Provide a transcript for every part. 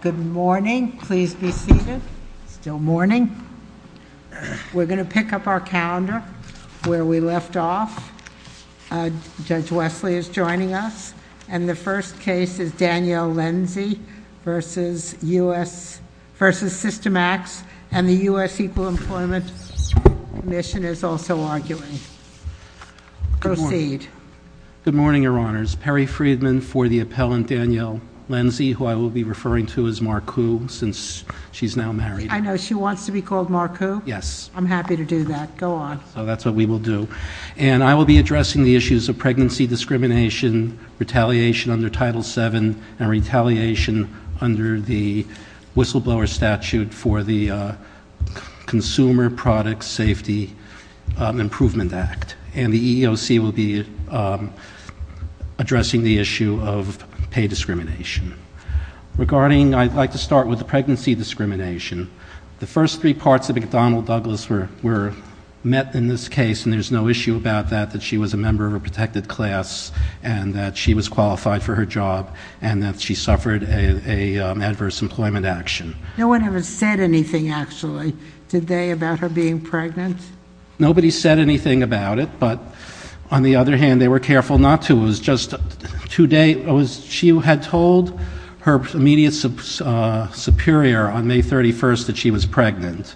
Good morning. Please be seated. Still morning. We're going to pick up our calendar where we left off. Judge Wesley is joining us, and the first case is Danielle Lenzi v. Systemax, and the U.S. Equal Employment Commission is also arguing. Proceed. Good morning, Your Honors. Perry Friedman for the appellant, Danielle Lenzi, who I will be referring to as Marku since she's now married. I know. She wants to be called Marku? Yes. I'm happy to do that. Go on. So that's what we will do. And I will be addressing the issues of pregnancy discrimination, retaliation under Title VII, and retaliation under the whistleblower statute for the Consumer Product Safety Improvement Act. And the EEOC will be addressing the issue of pay discrimination. Regarding, I'd like to start with the pregnancy discrimination. The first three parts of McDonnell-Douglas were met in this case, and there's no issue about that, that she was a member of a protected class and that she was qualified for her job and that she suffered an adverse employment action. No one ever said anything, actually, today about her being pregnant? Nobody said anything about it, but on the other hand, they were careful not to. She had told her immediate superior on May 31st that she was pregnant.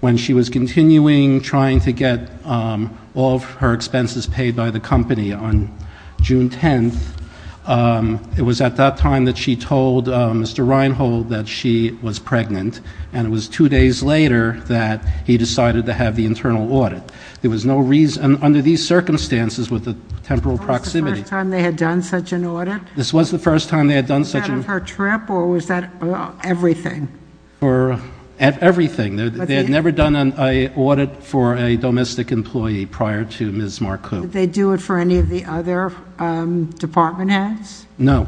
When she was continuing trying to get all of her expenses paid by the company on June 10th, it was at that time that she told Mr. Reinhold that she was pregnant, and it was two days later that he decided to have the internal audit. There was no reason, under these circumstances with the temporal proximity... This was the first time they had done such an audit? This was the first time they had done such an... Was that on her trip, or was that everything? Everything. They had never done an audit for a domestic employee prior to Ms. Marcoux. Did they do it for any of the other department heads? No.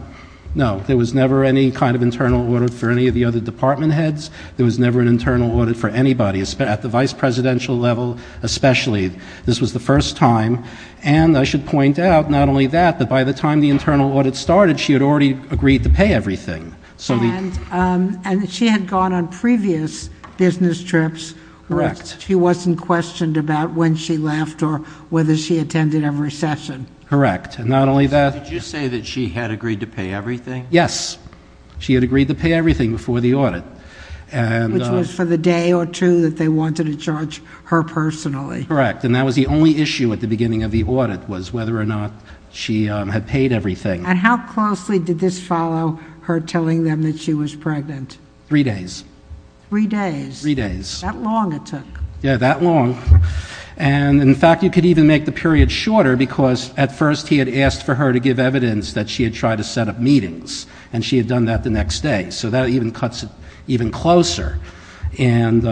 No. There was never any kind of internal audit for any of the other department heads. There was never an internal audit for anybody, at the vice presidential level especially. This was the first time, and I should point out, not only that, but by the time the internal audit started, she had already agreed to pay everything, so... She had gone on previous business trips, but she wasn't questioned about when she left or whether she attended every session. Correct. And not only that... Did you say that she had agreed to pay everything? Yes. She had agreed to pay everything before the audit. Which was for the day or two that they wanted to judge her personally. Correct. And that was the only issue at the beginning of the audit, was whether or not she had paid everything. And how closely did this follow her telling them that she was pregnant? Three days. Three days? Three days. That long it took. Yeah, that long. In fact, you could even make the period shorter, because at first he had asked for her to give up meetings, and she had done that the next day. So that even cuts it even closer. And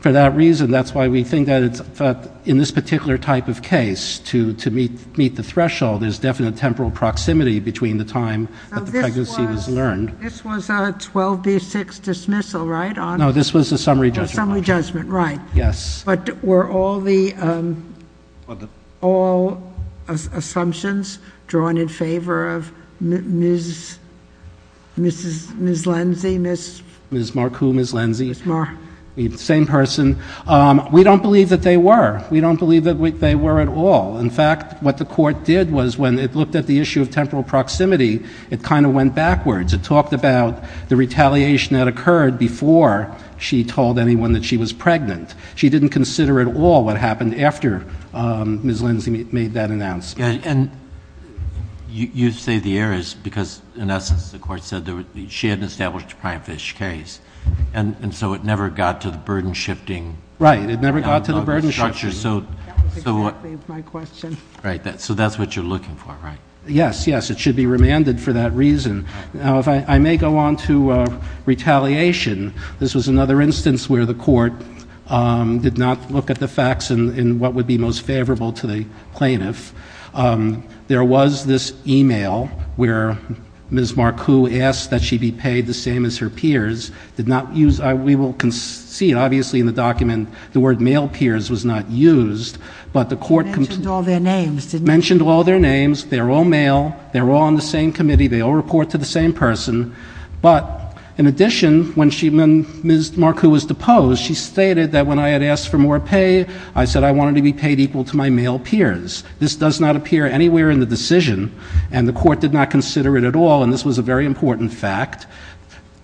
for that reason, that's why we think that in this particular type of case, to meet the threshold, there's definite temporal proximity between the time that the pregnancy was learned. This was a 12B6 dismissal, right? No, this was a summary judgment. Summary judgment, right. Yes. But were all the assumptions drawn in favor of Ms. Lenzi, Ms. Marcoux? Ms. Lenzi. Ms. Marcoux. The same person. We don't believe that they were. We don't believe that they were at all. In fact, what the court did was, when it looked at the issue of temporal proximity, it kind of went backwards. It talked about the retaliation that occurred before she told anyone that she was pregnant. She didn't consider at all what happened after Ms. Lenzi made that announcement. And you say the error is because, in essence, the court said she hadn't established a prime fish case. And so it never got to the burden-shifting structure. Right. It never got to the burden-shifting. That was exactly my question. Right. So that's what you're looking for, right? Yes. Yes. It should be remanded for that reason. Now, if I may go on to retaliation. This was another instance where the court did not look at the facts and what would be most favorable to the plaintiff. There was this email where Ms. Marcoux asked that she be paid the same as her peers, did not use—we will see, obviously, in the document, the word male peers was not used, but the court— You mentioned all their names, didn't you? Mentioned all their names. They were all male. They were all on the same committee. They all report to the same person. But in addition, when Ms. Marcoux was deposed, she stated that when I had asked for more pay, I said I wanted to be paid equal to my male peers. This does not appear anywhere in the decision, and the court did not consider it at all. And this was a very important fact.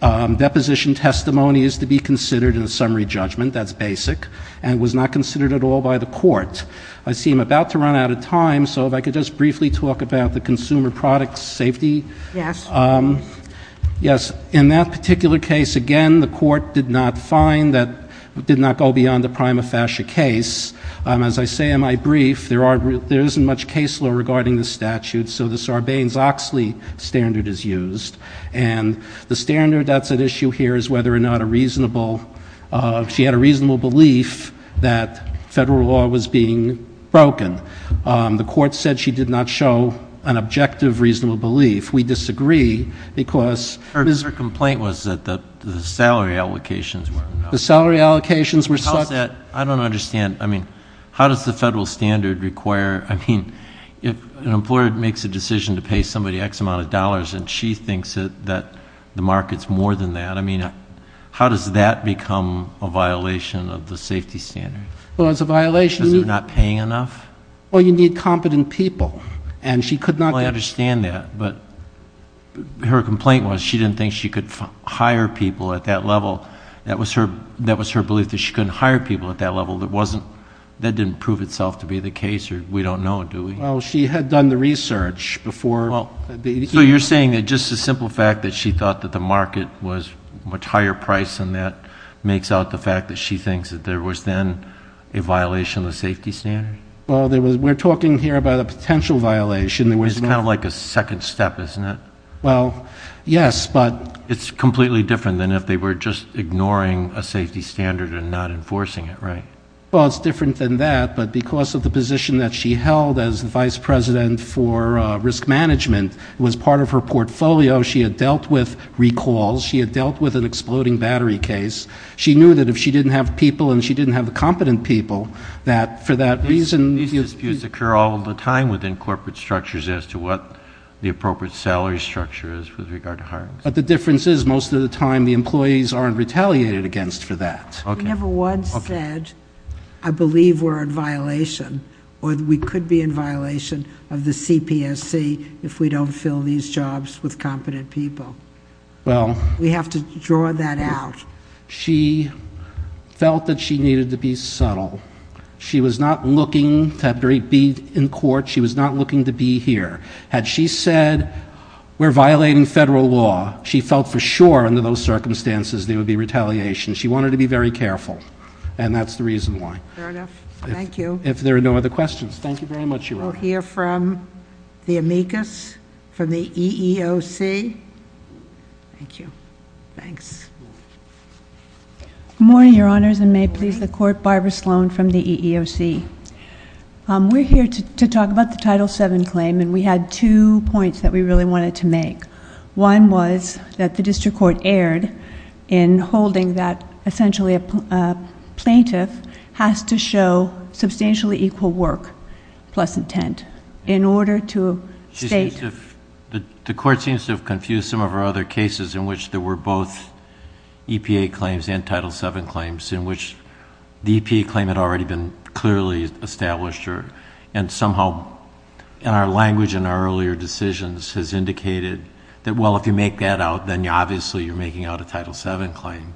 Deposition testimony is to be considered in a summary judgment. That's basic. And it was not considered at all by the court. I see I'm about to run out of time, so if I could just briefly talk about the consumer product safety. Yes. Yes. In that particular case, again, the court did not find that—did not go beyond the prima facie case. As I say in my brief, there isn't much case law regarding the statute, so the Sarbanes-Oxley standard is used. And the standard that's at issue here is whether or not a reasonable—she had a reasonable belief that federal law was being broken. The court said she did not show an objective reasonable belief. We disagree because— Her complaint was that the salary allocations were not— The salary allocations were such— How's that—I don't understand. I mean, how does the federal standard require—I mean, if an employer makes a decision to pay somebody X amount of dollars and she thinks that the market's more than that, I mean, how does that become a violation of the safety standard? Well, it's a violation— Because they're not paying enough? Well, you need competent people. And she could not— Well, I understand that. But her complaint was she didn't think she could hire people at that level. That was her—that was her belief that she couldn't hire people at that level. That wasn't—that didn't prove itself to be the case, or we don't know, do we? Well, she had done the research before— Well, so you're saying that just the simple fact that she thought that the market was much higher price than that makes out the fact that she thinks that there was then a violation of the safety standard? Well, there was—we're talking here about a potential violation. There was no— It's kind of like a second step, isn't it? Well, yes, but— It's completely different than if they were just ignoring a safety standard and not enforcing it, right? Well, it's different than that, but because of the position that she held as the vice president for risk management, it was part of her portfolio. She had dealt with recalls. She had dealt with an exploding battery case. She knew that if she didn't have people and she didn't have competent people, that for that reason— These disputes occur all the time within corporate structures as to what the appropriate salary structure is with regard to hiring. But the difference is, most of the time, the employees aren't retaliated against for that. Okay. Okay. We never once said, I believe we're in violation, or we could be in violation of the CPSC if we don't fill these jobs with competent people. Well— We have to draw that out. She felt that she needed to be subtle. She was not looking to be in court. She was not looking to be here. Had she said, we're violating federal law, she felt for sure under those circumstances there would be retaliation. She wanted to be very careful, and that's the reason why. Fair enough. Thank you. If there are no other questions, thank you very much, Your Honor. We'll hear from the amicus, from the EEOC. Thank you. Thanks. Good morning, Your Honors, and may it please the Court, Barbara Sloan from the EEOC. We're here to talk about the Title VII claim, and we had two points that we really wanted to make. One was that the district court erred in holding that essentially a plaintiff has to show substantially equal work plus intent in order to state— The court seems to have confused some of our other cases in which there were both EPA claims and Title VII claims in which the EPA claim had already been clearly established, and somehow in our language in our earlier decisions has indicated that, well, if you make that out, then obviously you're making out a Title VII claim,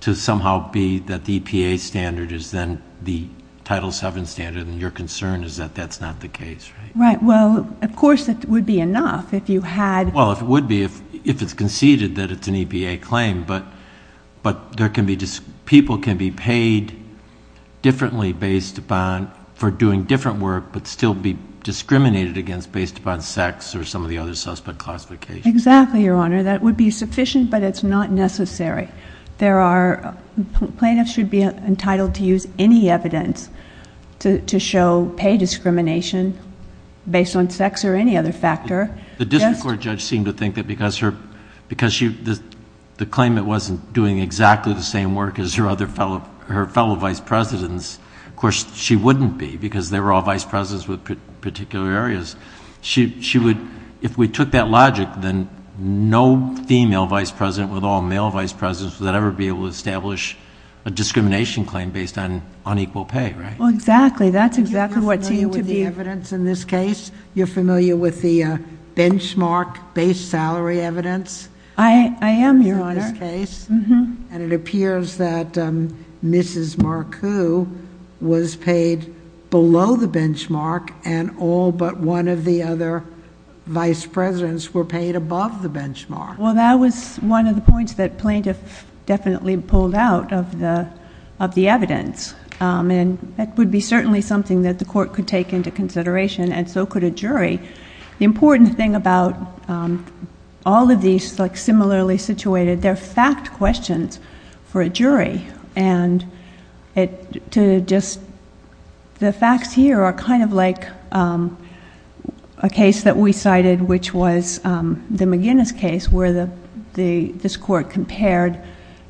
to somehow be that the EPA standard is then the Title VII standard, and your concern is that that's not the case, right? Right. Well, of course, it would be enough if you had— Well, it would be if it's conceded that it's an EPA claim, but people can be paid differently based upon—for doing different work, but still be discriminated against based upon sex or some of the other suspect classifications. Exactly, Your Honor. That would be sufficient, but it's not necessary. Plaintiffs should be entitled to use any evidence to show pay discrimination based on sex or any other factor. The district court judge seemed to think that because the claimant wasn't doing exactly the same work as her fellow vice presidents, of course, she wouldn't be because they were all vice presidents with particular areas. If we took that logic, then no female vice president with all male vice presidents would ever be able to establish a discrimination claim based on unequal pay, right? Exactly. That's exactly what seemed to be— Are you familiar with the evidence in this case? You're familiar with the benchmark-based salary evidence? I am, Your Honor. In this case? Mm-hmm. And it appears that Mrs. Marcu was paid below the benchmark and all but one of the other vice presidents were paid above the benchmark. Well, that was one of the points that plaintiff definitely pulled out of the evidence. And that would be certainly something that the court could take into consideration and so could a jury. The important thing about all of these like similarly situated, they're fact questions for a jury and the facts here are kind of like a case that we cited which was the McGinnis case where this court compared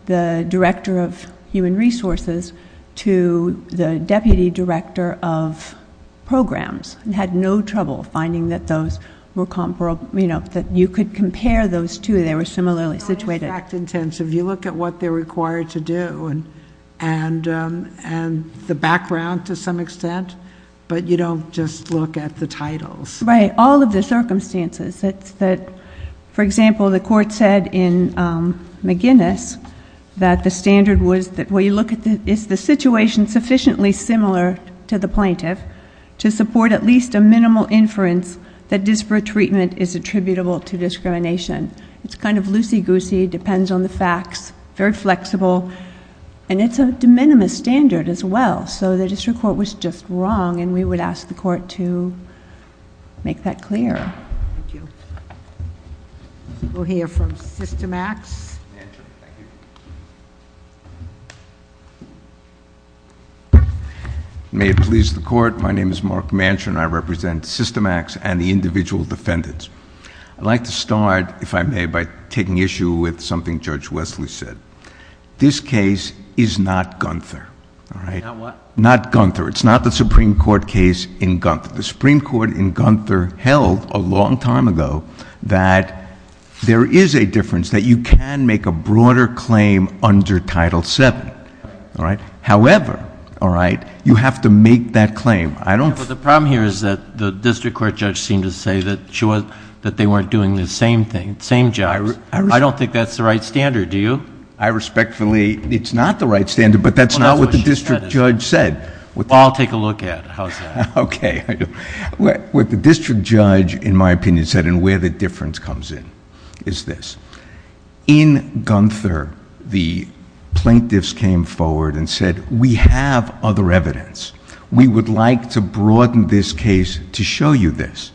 the director of human resources to the deputy director of programs and had no trouble finding that those were comparable, that you could compare those two. They were similarly situated. So it's fact intensive. You look at what they're required to do and the background to some extent, but you don't just look at the titles. Right. All of the circumstances. It's that, for example, the court said in McGinnis that the standard was that when you look at the, is the situation sufficiently similar to the plaintiff to support at least a minimal inference that disparate treatment is attributable to discrimination. It's kind of loosey-goosey, depends on the facts, very flexible and it's a de minimis standard as well. So the district court was just wrong and we would ask the court to make that clear. Thank you. We'll hear from Systemax. May it please the court. My name is Mark Manchin. I represent Systemax and the individual defendants. I'd like to start, if I may, by taking issue with something Judge Wesley said. This case is not Gunther. All right. Not what? Not Gunther. It's not the Supreme Court case in Gunther. The Supreme Court in Gunther held a long time ago that there is a difference, that you can make a broader claim under Title VII, however, you have to make that claim. The problem here is that the district court judge seemed to say that they weren't doing the same thing, same jobs. I don't think that's the right standard. Do you? I respectfully... it's not the right standard, but that's not what the district judge said. Well, I'll take a look at it. How's that? Okay. What the district judge, in my opinion, said and where the difference comes in is this. In Gunther, the plaintiffs came forward and said, we have other evidence. We would like to broaden this case to show you this.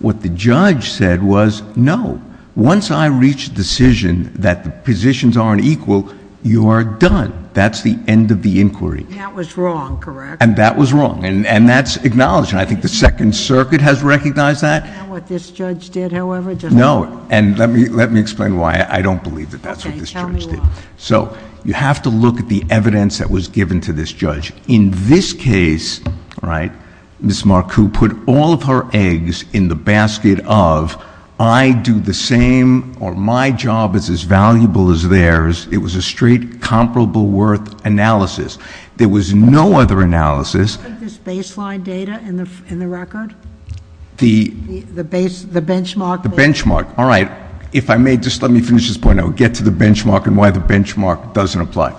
What the judge said was, no. Once I reach a decision that the positions aren't equal, you are done. That's the end of the inquiry. That was wrong, correct? That was wrong. That's acknowledged. I think the Second Circuit has recognized that. Do you know what this judge did, however? No. Let me explain why. I don't believe that that's what this judge did. Okay. Tell me why. You have to look at the evidence that was given to this judge. In this case, Ms. Marcoux put all of her eggs in the basket of, I do the same or my job is as valuable as theirs. It was a straight comparable worth analysis. There was no other analysis. Do you have this baseline data in the record? The benchmark? The benchmark. All right. If I may, just let me finish this point. I will get to the benchmark and why the benchmark doesn't apply.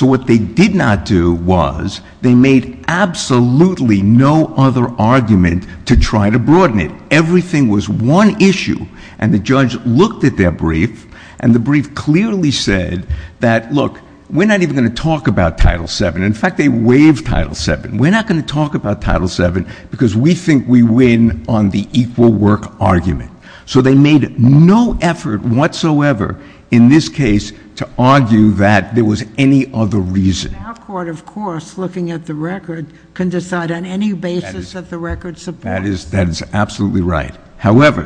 What they did not do was, they made absolutely no other argument to try to broaden it. Everything was one issue and the judge looked at their brief and the brief clearly said that, look, we're not even going to talk about Title VII. In fact, they waived Title VII. We're not going to talk about Title VII because we think we win on the equal work argument. They made no effort whatsoever in this case to argue that there was any other reason. Our court, of course, looking at the record, can decide on any basis that the record supports. That is absolutely right. However,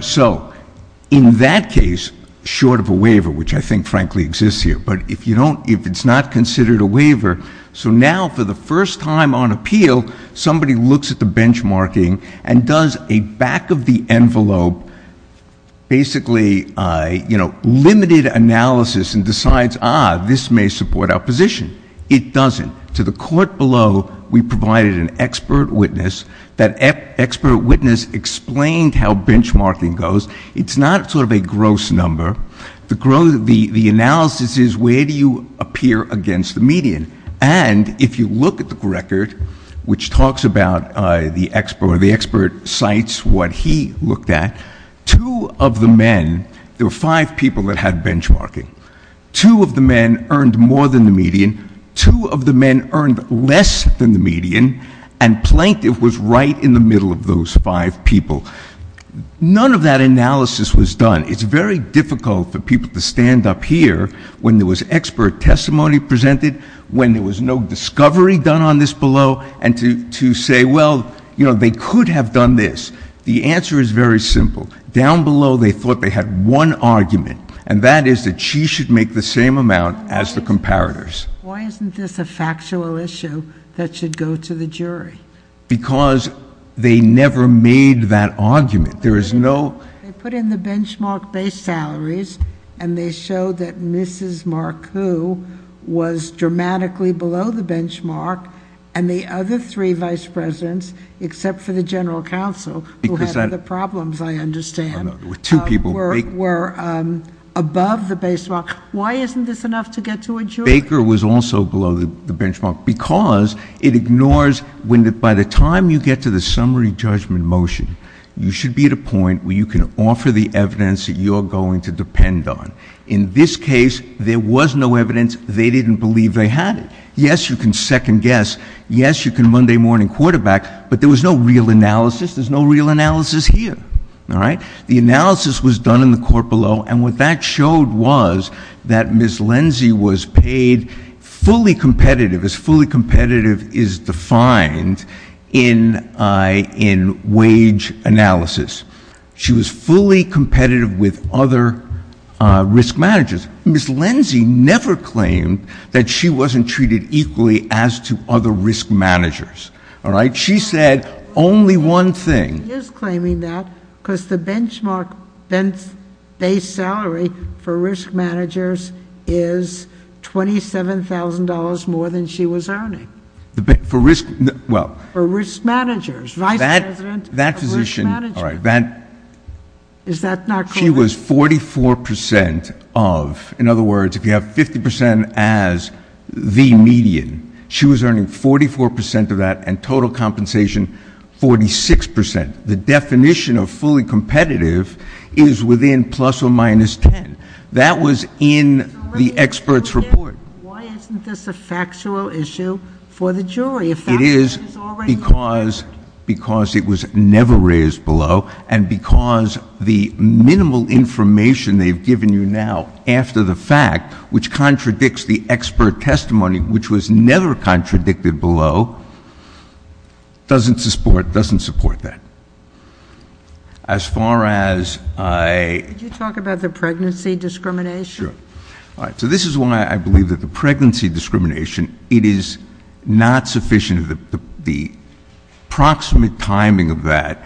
in that case, short of a waiver, which I think frankly exists here, but if it's not considered a waiver, so now for the first time on appeal, somebody looks at the benchmarking and does a back of the envelope, basically, you know, limited analysis and decides, ah, this may support our position. It doesn't. To the court below, we provided an expert witness. That expert witness explained how benchmarking goes. It's not sort of a gross number. The analysis is, where do you appear against the median? And if you look at the record, which talks about the expert, or the expert cites what he looked at, two of the men, there were five people that had benchmarking. Two of the men earned more than the median. Two of the men earned less than the median. And plaintiff was right in the middle of those five people. None of that analysis was done. It's very difficult for people to stand up here when there was expert testimony presented, when there was no discovery done on this below, and to say, well, you know, they could have done this. The answer is very simple. Down below, they thought they had one argument, and that is that she should make the same amount as the comparators. Why isn't this a factual issue that should go to the jury? There is no... They put in the benchmark-based salaries, and they showed that Mrs. Marcoux was dramatically below the benchmark, and the other three vice presidents, except for the general counsel, who had the problems, I understand, were above the benchmark. Why isn't this enough to get to a jury? Baker was also below the benchmark, because it ignores, by the time you get to the summary judgment motion, you should be at a point where you can offer the evidence that you're going to depend on. In this case, there was no evidence. They didn't believe they had it. Yes, you can second-guess. Yes, you can Monday-morning quarterback, but there was no real analysis. There's no real analysis here, all right? The analysis was done in the court below, and what that showed was that Ms. Lenzi was paid fully competitive, as fully competitive is defined in wage analysis. She was fully competitive with other risk managers. Ms. Lenzi never claimed that she wasn't treated equally as to other risk managers, all right? She said only one thing. She is claiming that, because the benchmark-based salary for risk managers is $27,000 more than she was earning. For risk, well- For risk managers. Vice President of risk management. That position, all right, that- Is that not correct? She was 44% of, in other words, if you have 50% as the median, she was earning 44% of that, and total compensation, 46%. The definition of fully competitive is within plus or minus 10. That was in the expert's report. Why isn't this a factual issue for the jury? A fact that she's already- It is because it was never raised below, and because the minimal information they've given you now after the fact, which contradicts the expert testimony, which was never contradicted below, doesn't support that. As far as I- Could you talk about the pregnancy discrimination? Sure. All right, so this is why I believe that the pregnancy discrimination, it is not sufficient, the proximate timing of that.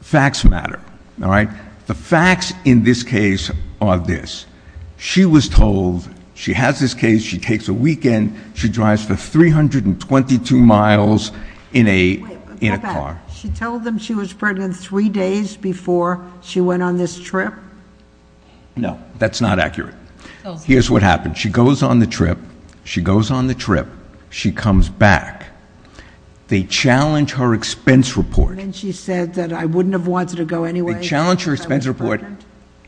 Facts matter, all right? The facts in this case are this. She was told, she has this case, she takes a weekend, she drives for 322 miles in a car. She told them she was pregnant three days before she went on this trip? No, that's not accurate. Here's what happened. She goes on the trip, she goes on the trip, she comes back. They challenge her expense report. And then she said that I wouldn't have wanted to go anyway. They challenge her expense report.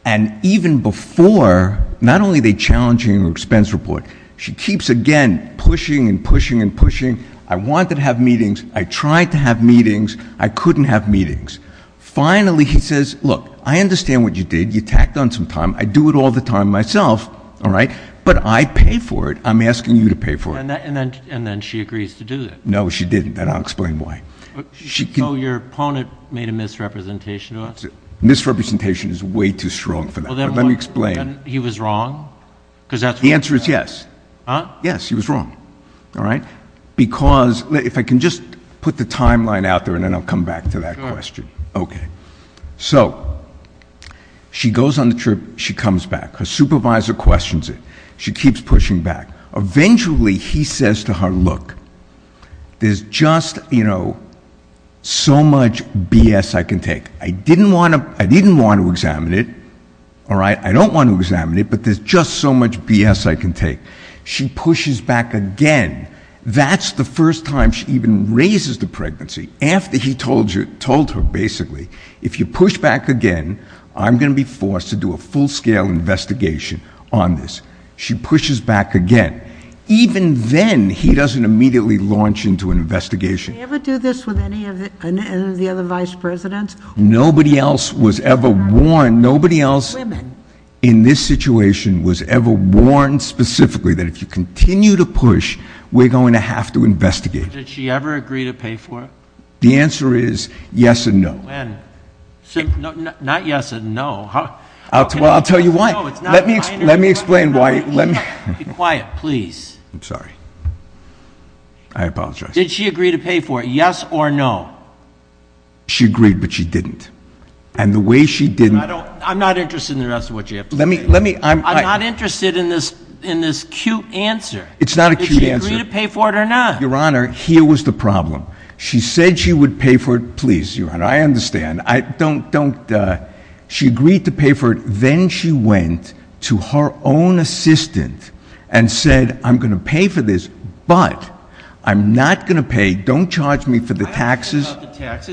And even before, not only are they challenging her expense report, she keeps again pushing and pushing and pushing. I wanted to have meetings. I tried to have meetings. I couldn't have meetings. Finally, he says, look, I understand what you did. You tacked on some time. I do it all the time myself, all right? But I pay for it. I'm asking you to pay for it. And then she agrees to do it. No, she didn't. And I'll explain why. So your opponent made a misrepresentation to us? Misrepresentation is way too strong for that, but let me explain. He was wrong? Because that's- The answer is yes. Yes, he was wrong, all right? Because, if I can just put the timeline out there, and then I'll come back to that question. Okay, so she goes on the trip. She comes back. Her supervisor questions it. She keeps pushing back. Eventually, he says to her, look, there's just so much BS I can take. I didn't want to examine it, all right? I don't want to examine it, but there's just so much BS I can take. She pushes back again. That's the first time she even raises the pregnancy, after he told her, basically, if you push back again, I'm going to be forced to do a full-scale investigation on this. She pushes back again. Even then, he doesn't immediately launch into an investigation. Did he ever do this with any of the other vice presidents? Nobody else was ever warned. Nobody else in this situation was ever warned specifically that if you continue to push, we're going to have to investigate. Did she ever agree to pay for it? The answer is yes and no. When? Not yes and no. Well, I'll tell you why. Let me explain why. Be quiet, please. I'm sorry, I apologize. Did she agree to pay for it, yes or no? She agreed, but she didn't. And the way she didn't- I'm not interested in the rest of what you have to say. I'm not interested in this cute answer. It's not a cute answer. Did she agree to pay for it or not? Your Honor, here was the problem. She said she would pay for it. Please, Your Honor, I understand. I don't, don't. She agreed to pay for it, then she went to her own assistant and said, I'm going to pay for this, but I'm not going to pay. Don't charge me for the taxes.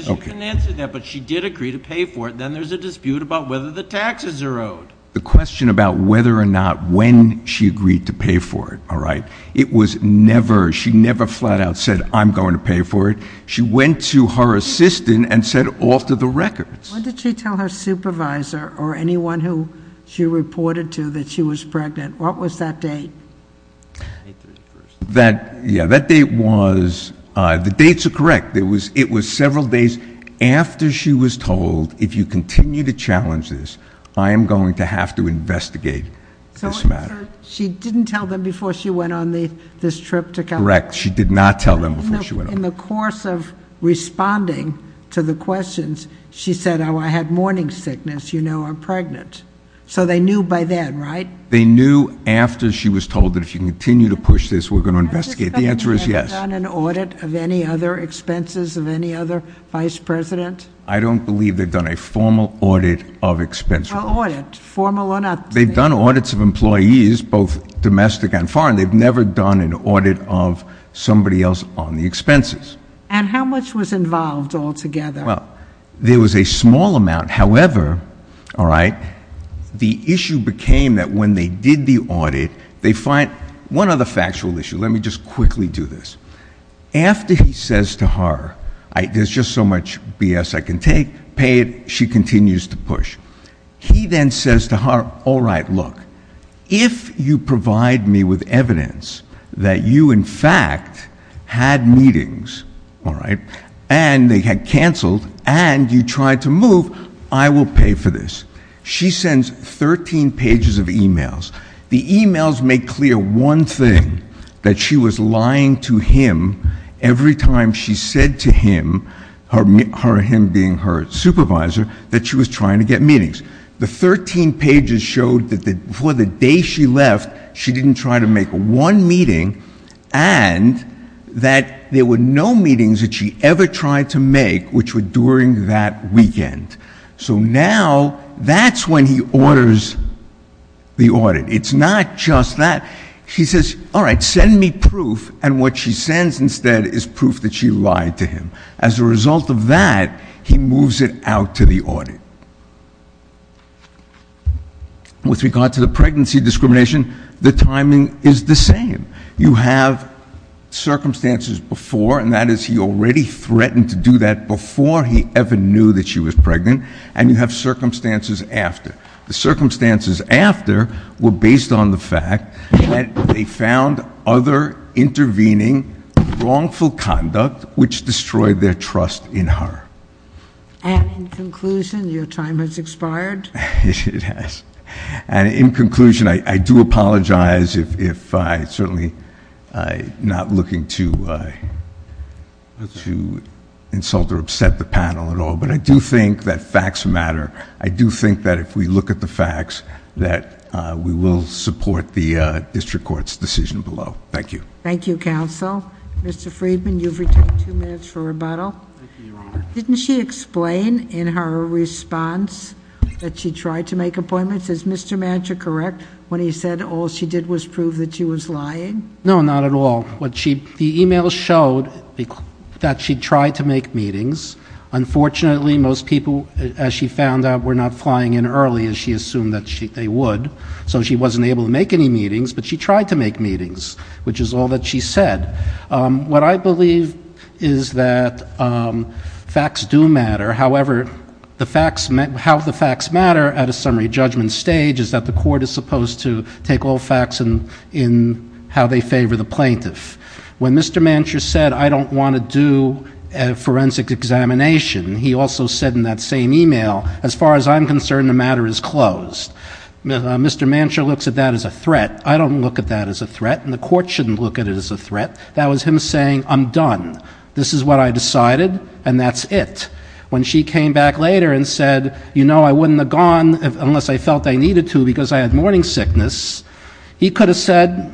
You can answer that, but she did agree to pay for it, then there's a dispute about whether the taxes are owed. The question about whether or not when she agreed to pay for it, all right? It was never, she never flat out said, I'm going to pay for it. She went to her assistant and said, alter the records. When did she tell her supervisor or anyone who she reported to that she was pregnant, what was that date? May 31st. That, yeah, that date was, the dates are correct. It was several days after she was told, if you continue to challenge this, I am going to have to investigate this matter. She didn't tell them before she went on this trip to California? Correct, she did not tell them before she went on. In the course of responding to the questions, she said, I had morning sickness, you know, I'm pregnant. So they knew by then, right? They knew after she was told that if you continue to push this, we're going to investigate. The answer is yes. Have they done an audit of any other expenses of any other vice president? I don't believe they've done a formal audit of expenses. Well, audit, formal or not. They've done audits of employees, both domestic and foreign. They've never done an audit of somebody else on the expenses. And how much was involved altogether? Well, there was a small amount. However, all right, the issue became that when they did the audit, they find, one other factual issue. Let me just quickly do this. After he says to her, there's just so much BS I can take, pay it, she continues to push. He then says to her, all right, look, if you provide me with evidence that you, in fact, had meetings, all right, and they had canceled, and you tried to move, I will pay for this. She sends 13 pages of emails. The emails make clear one thing, that she was lying to him every time she said to him, her him being her supervisor, that she was trying to get meetings. The 13 pages showed that before the day she left, she didn't try to make one meeting, and that there were no meetings that she ever tried to make, which were during that weekend. So now, that's when he orders the audit. It's not just that. He says, all right, send me proof, and what she sends instead is proof that she lied to him. As a result of that, he moves it out to the audit. With regard to the pregnancy discrimination, the timing is the same. You have circumstances before, and that is he already threatened to do that before he ever knew that she was pregnant. And you have circumstances after. The circumstances after were based on the fact that they found other intervening wrongful conduct which destroyed their trust in her. And in conclusion, your time has expired. It has. And in conclusion, I do apologize if I certainly not looking to insult or upset the panel at all, but I do think that facts matter. I do think that if we look at the facts, that we will support the district court's decision below. Thank you. Thank you, counsel. Mr. Freedman, you've retained two minutes for rebuttal. Thank you, Your Honor. Didn't she explain in her response that she tried to make appointments? Is Mr. Mantra correct when he said all she did was prove that she was lying? No, not at all. What she, the email showed that she tried to make meetings. Unfortunately, most people, as she found out, were not flying in early as she assumed that they would. So she wasn't able to make any meetings, but she tried to make meetings, which is all that she said. What I believe is that facts do matter. However, how the facts matter at a summary judgment stage is that the court is supposed to take all facts in how they favor the plaintiff. When Mr. Mantra said, I don't want to do a forensic examination, he also said in that same email, as far as I'm concerned, the matter is closed. Mr. Mantra looks at that as a threat. I don't look at that as a threat, and the court shouldn't look at it as a threat. That was him saying, I'm done. This is what I decided, and that's it. When she came back later and said, I wouldn't have gone unless I felt I needed to because I had morning sickness, he could have said,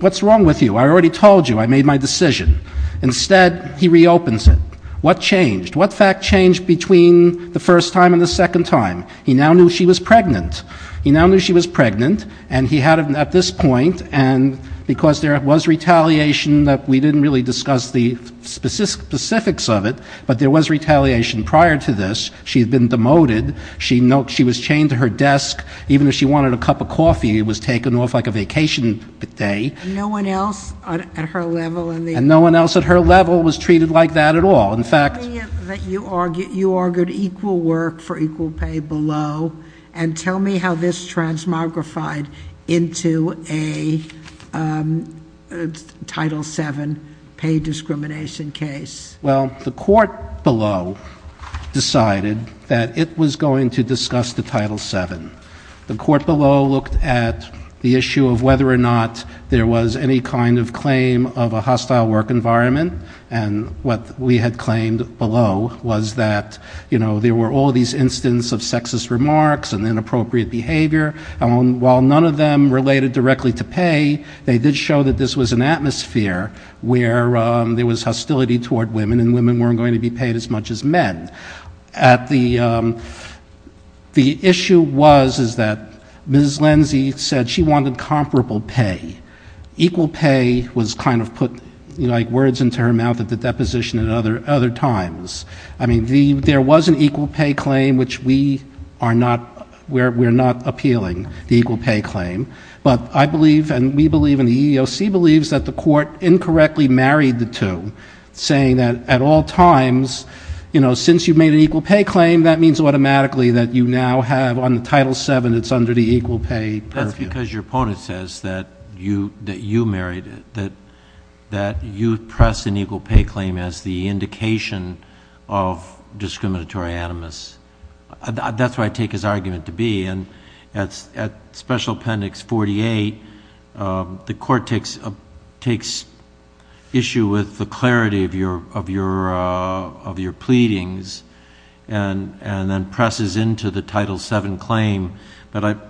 what's wrong with you? I already told you, I made my decision. Instead, he reopens it. What changed? What fact changed between the first time and the second time? He now knew she was pregnant. And he had at this point, and because there was retaliation that we didn't really discuss the specifics of it. But there was retaliation prior to this. She had been demoted. She was chained to her desk. Even if she wanted a cup of coffee, it was taken off like a vacation day. No one else at her level in the- And no one else at her level was treated like that at all. In fact- You argued equal work for equal pay below. And tell me how this transmogrified into a Title VII pay discrimination case. Well, the court below decided that it was going to discuss the Title VII. The court below looked at the issue of whether or not there was any kind of claim of a hostile work environment. And what we had claimed below was that there were all these instances of sexist remarks and inappropriate behavior. And while none of them related directly to pay, they did show that this was an atmosphere where there was hostility toward women, and women weren't going to be paid as much as men. The issue was is that Ms. Lindsey said she wanted comparable pay. Equal pay was kind of put words into her mouth at the deposition at other times. I mean, there was an equal pay claim, which we are not appealing the equal pay claim. But I believe, and we believe, and the EEOC believes that the court incorrectly married the two. Saying that at all times, since you've made an equal pay claim, that means automatically that you now have on the Title VII, it's under the equal pay purview. Because your opponent says that you married it, that you press an equal pay claim as the indication of discriminatory animus. That's where I take his argument to be. And at special appendix 48, the court takes issue with the clarity of your pleadings. And then presses into the Title VII claim. But I'm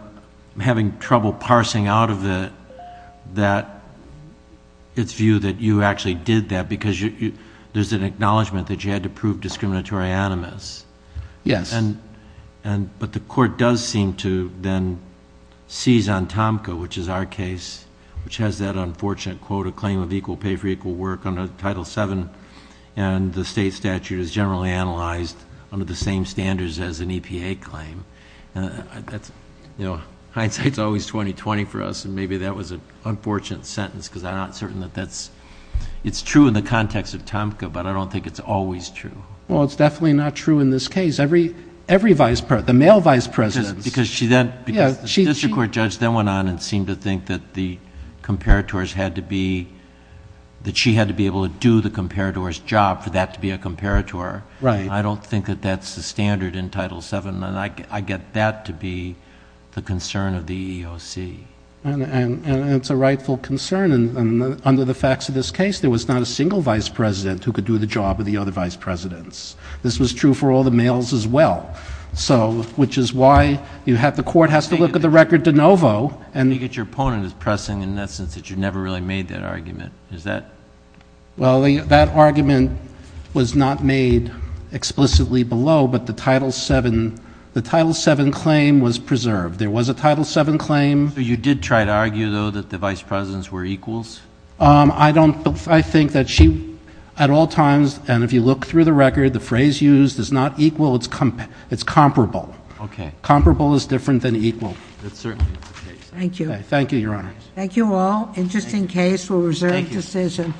having trouble parsing out of it that it's viewed that you actually did that. Because there's an acknowledgment that you had to prove discriminatory animus. Yes. But the court does seem to then seize on Tomka, which is our case, which has that unfortunate quote, a claim of equal pay for equal work under Title VII. And the state statute is generally analyzed under the same standards as an EPA claim. And hindsight's always 20-20 for us. And maybe that was an unfortunate sentence, because I'm not certain that that's. It's true in the context of Tomka, but I don't think it's always true. Well, it's definitely not true in this case. Every vice president, the male vice presidents. Because the district court judge then went on and seemed to think that the comparators had to be, that she had to be able to do the comparator's job for that to be a comparator. Right. I don't think that that's the standard in Title VII. I get that to be the concern of the EEOC. And it's a rightful concern. And under the facts of this case, there was not a single vice president who could do the job of the other vice presidents. This was true for all the males as well. So, which is why you have, the court has to look at the record de novo. And your opponent is pressing in that sense that you never really made that argument. Is that? Well, that argument was not made explicitly below, but the Title VII claim was preserved. There was a Title VII claim. You did try to argue, though, that the vice presidents were equals? I don't, I think that she, at all times, and if you look through the record, the phrase used is not equal, it's comparable. Okay. Comparable is different than equal. That's certainly the case. Thank you. Thank you, your honor. Thank you all. Interesting case for a reserved decision.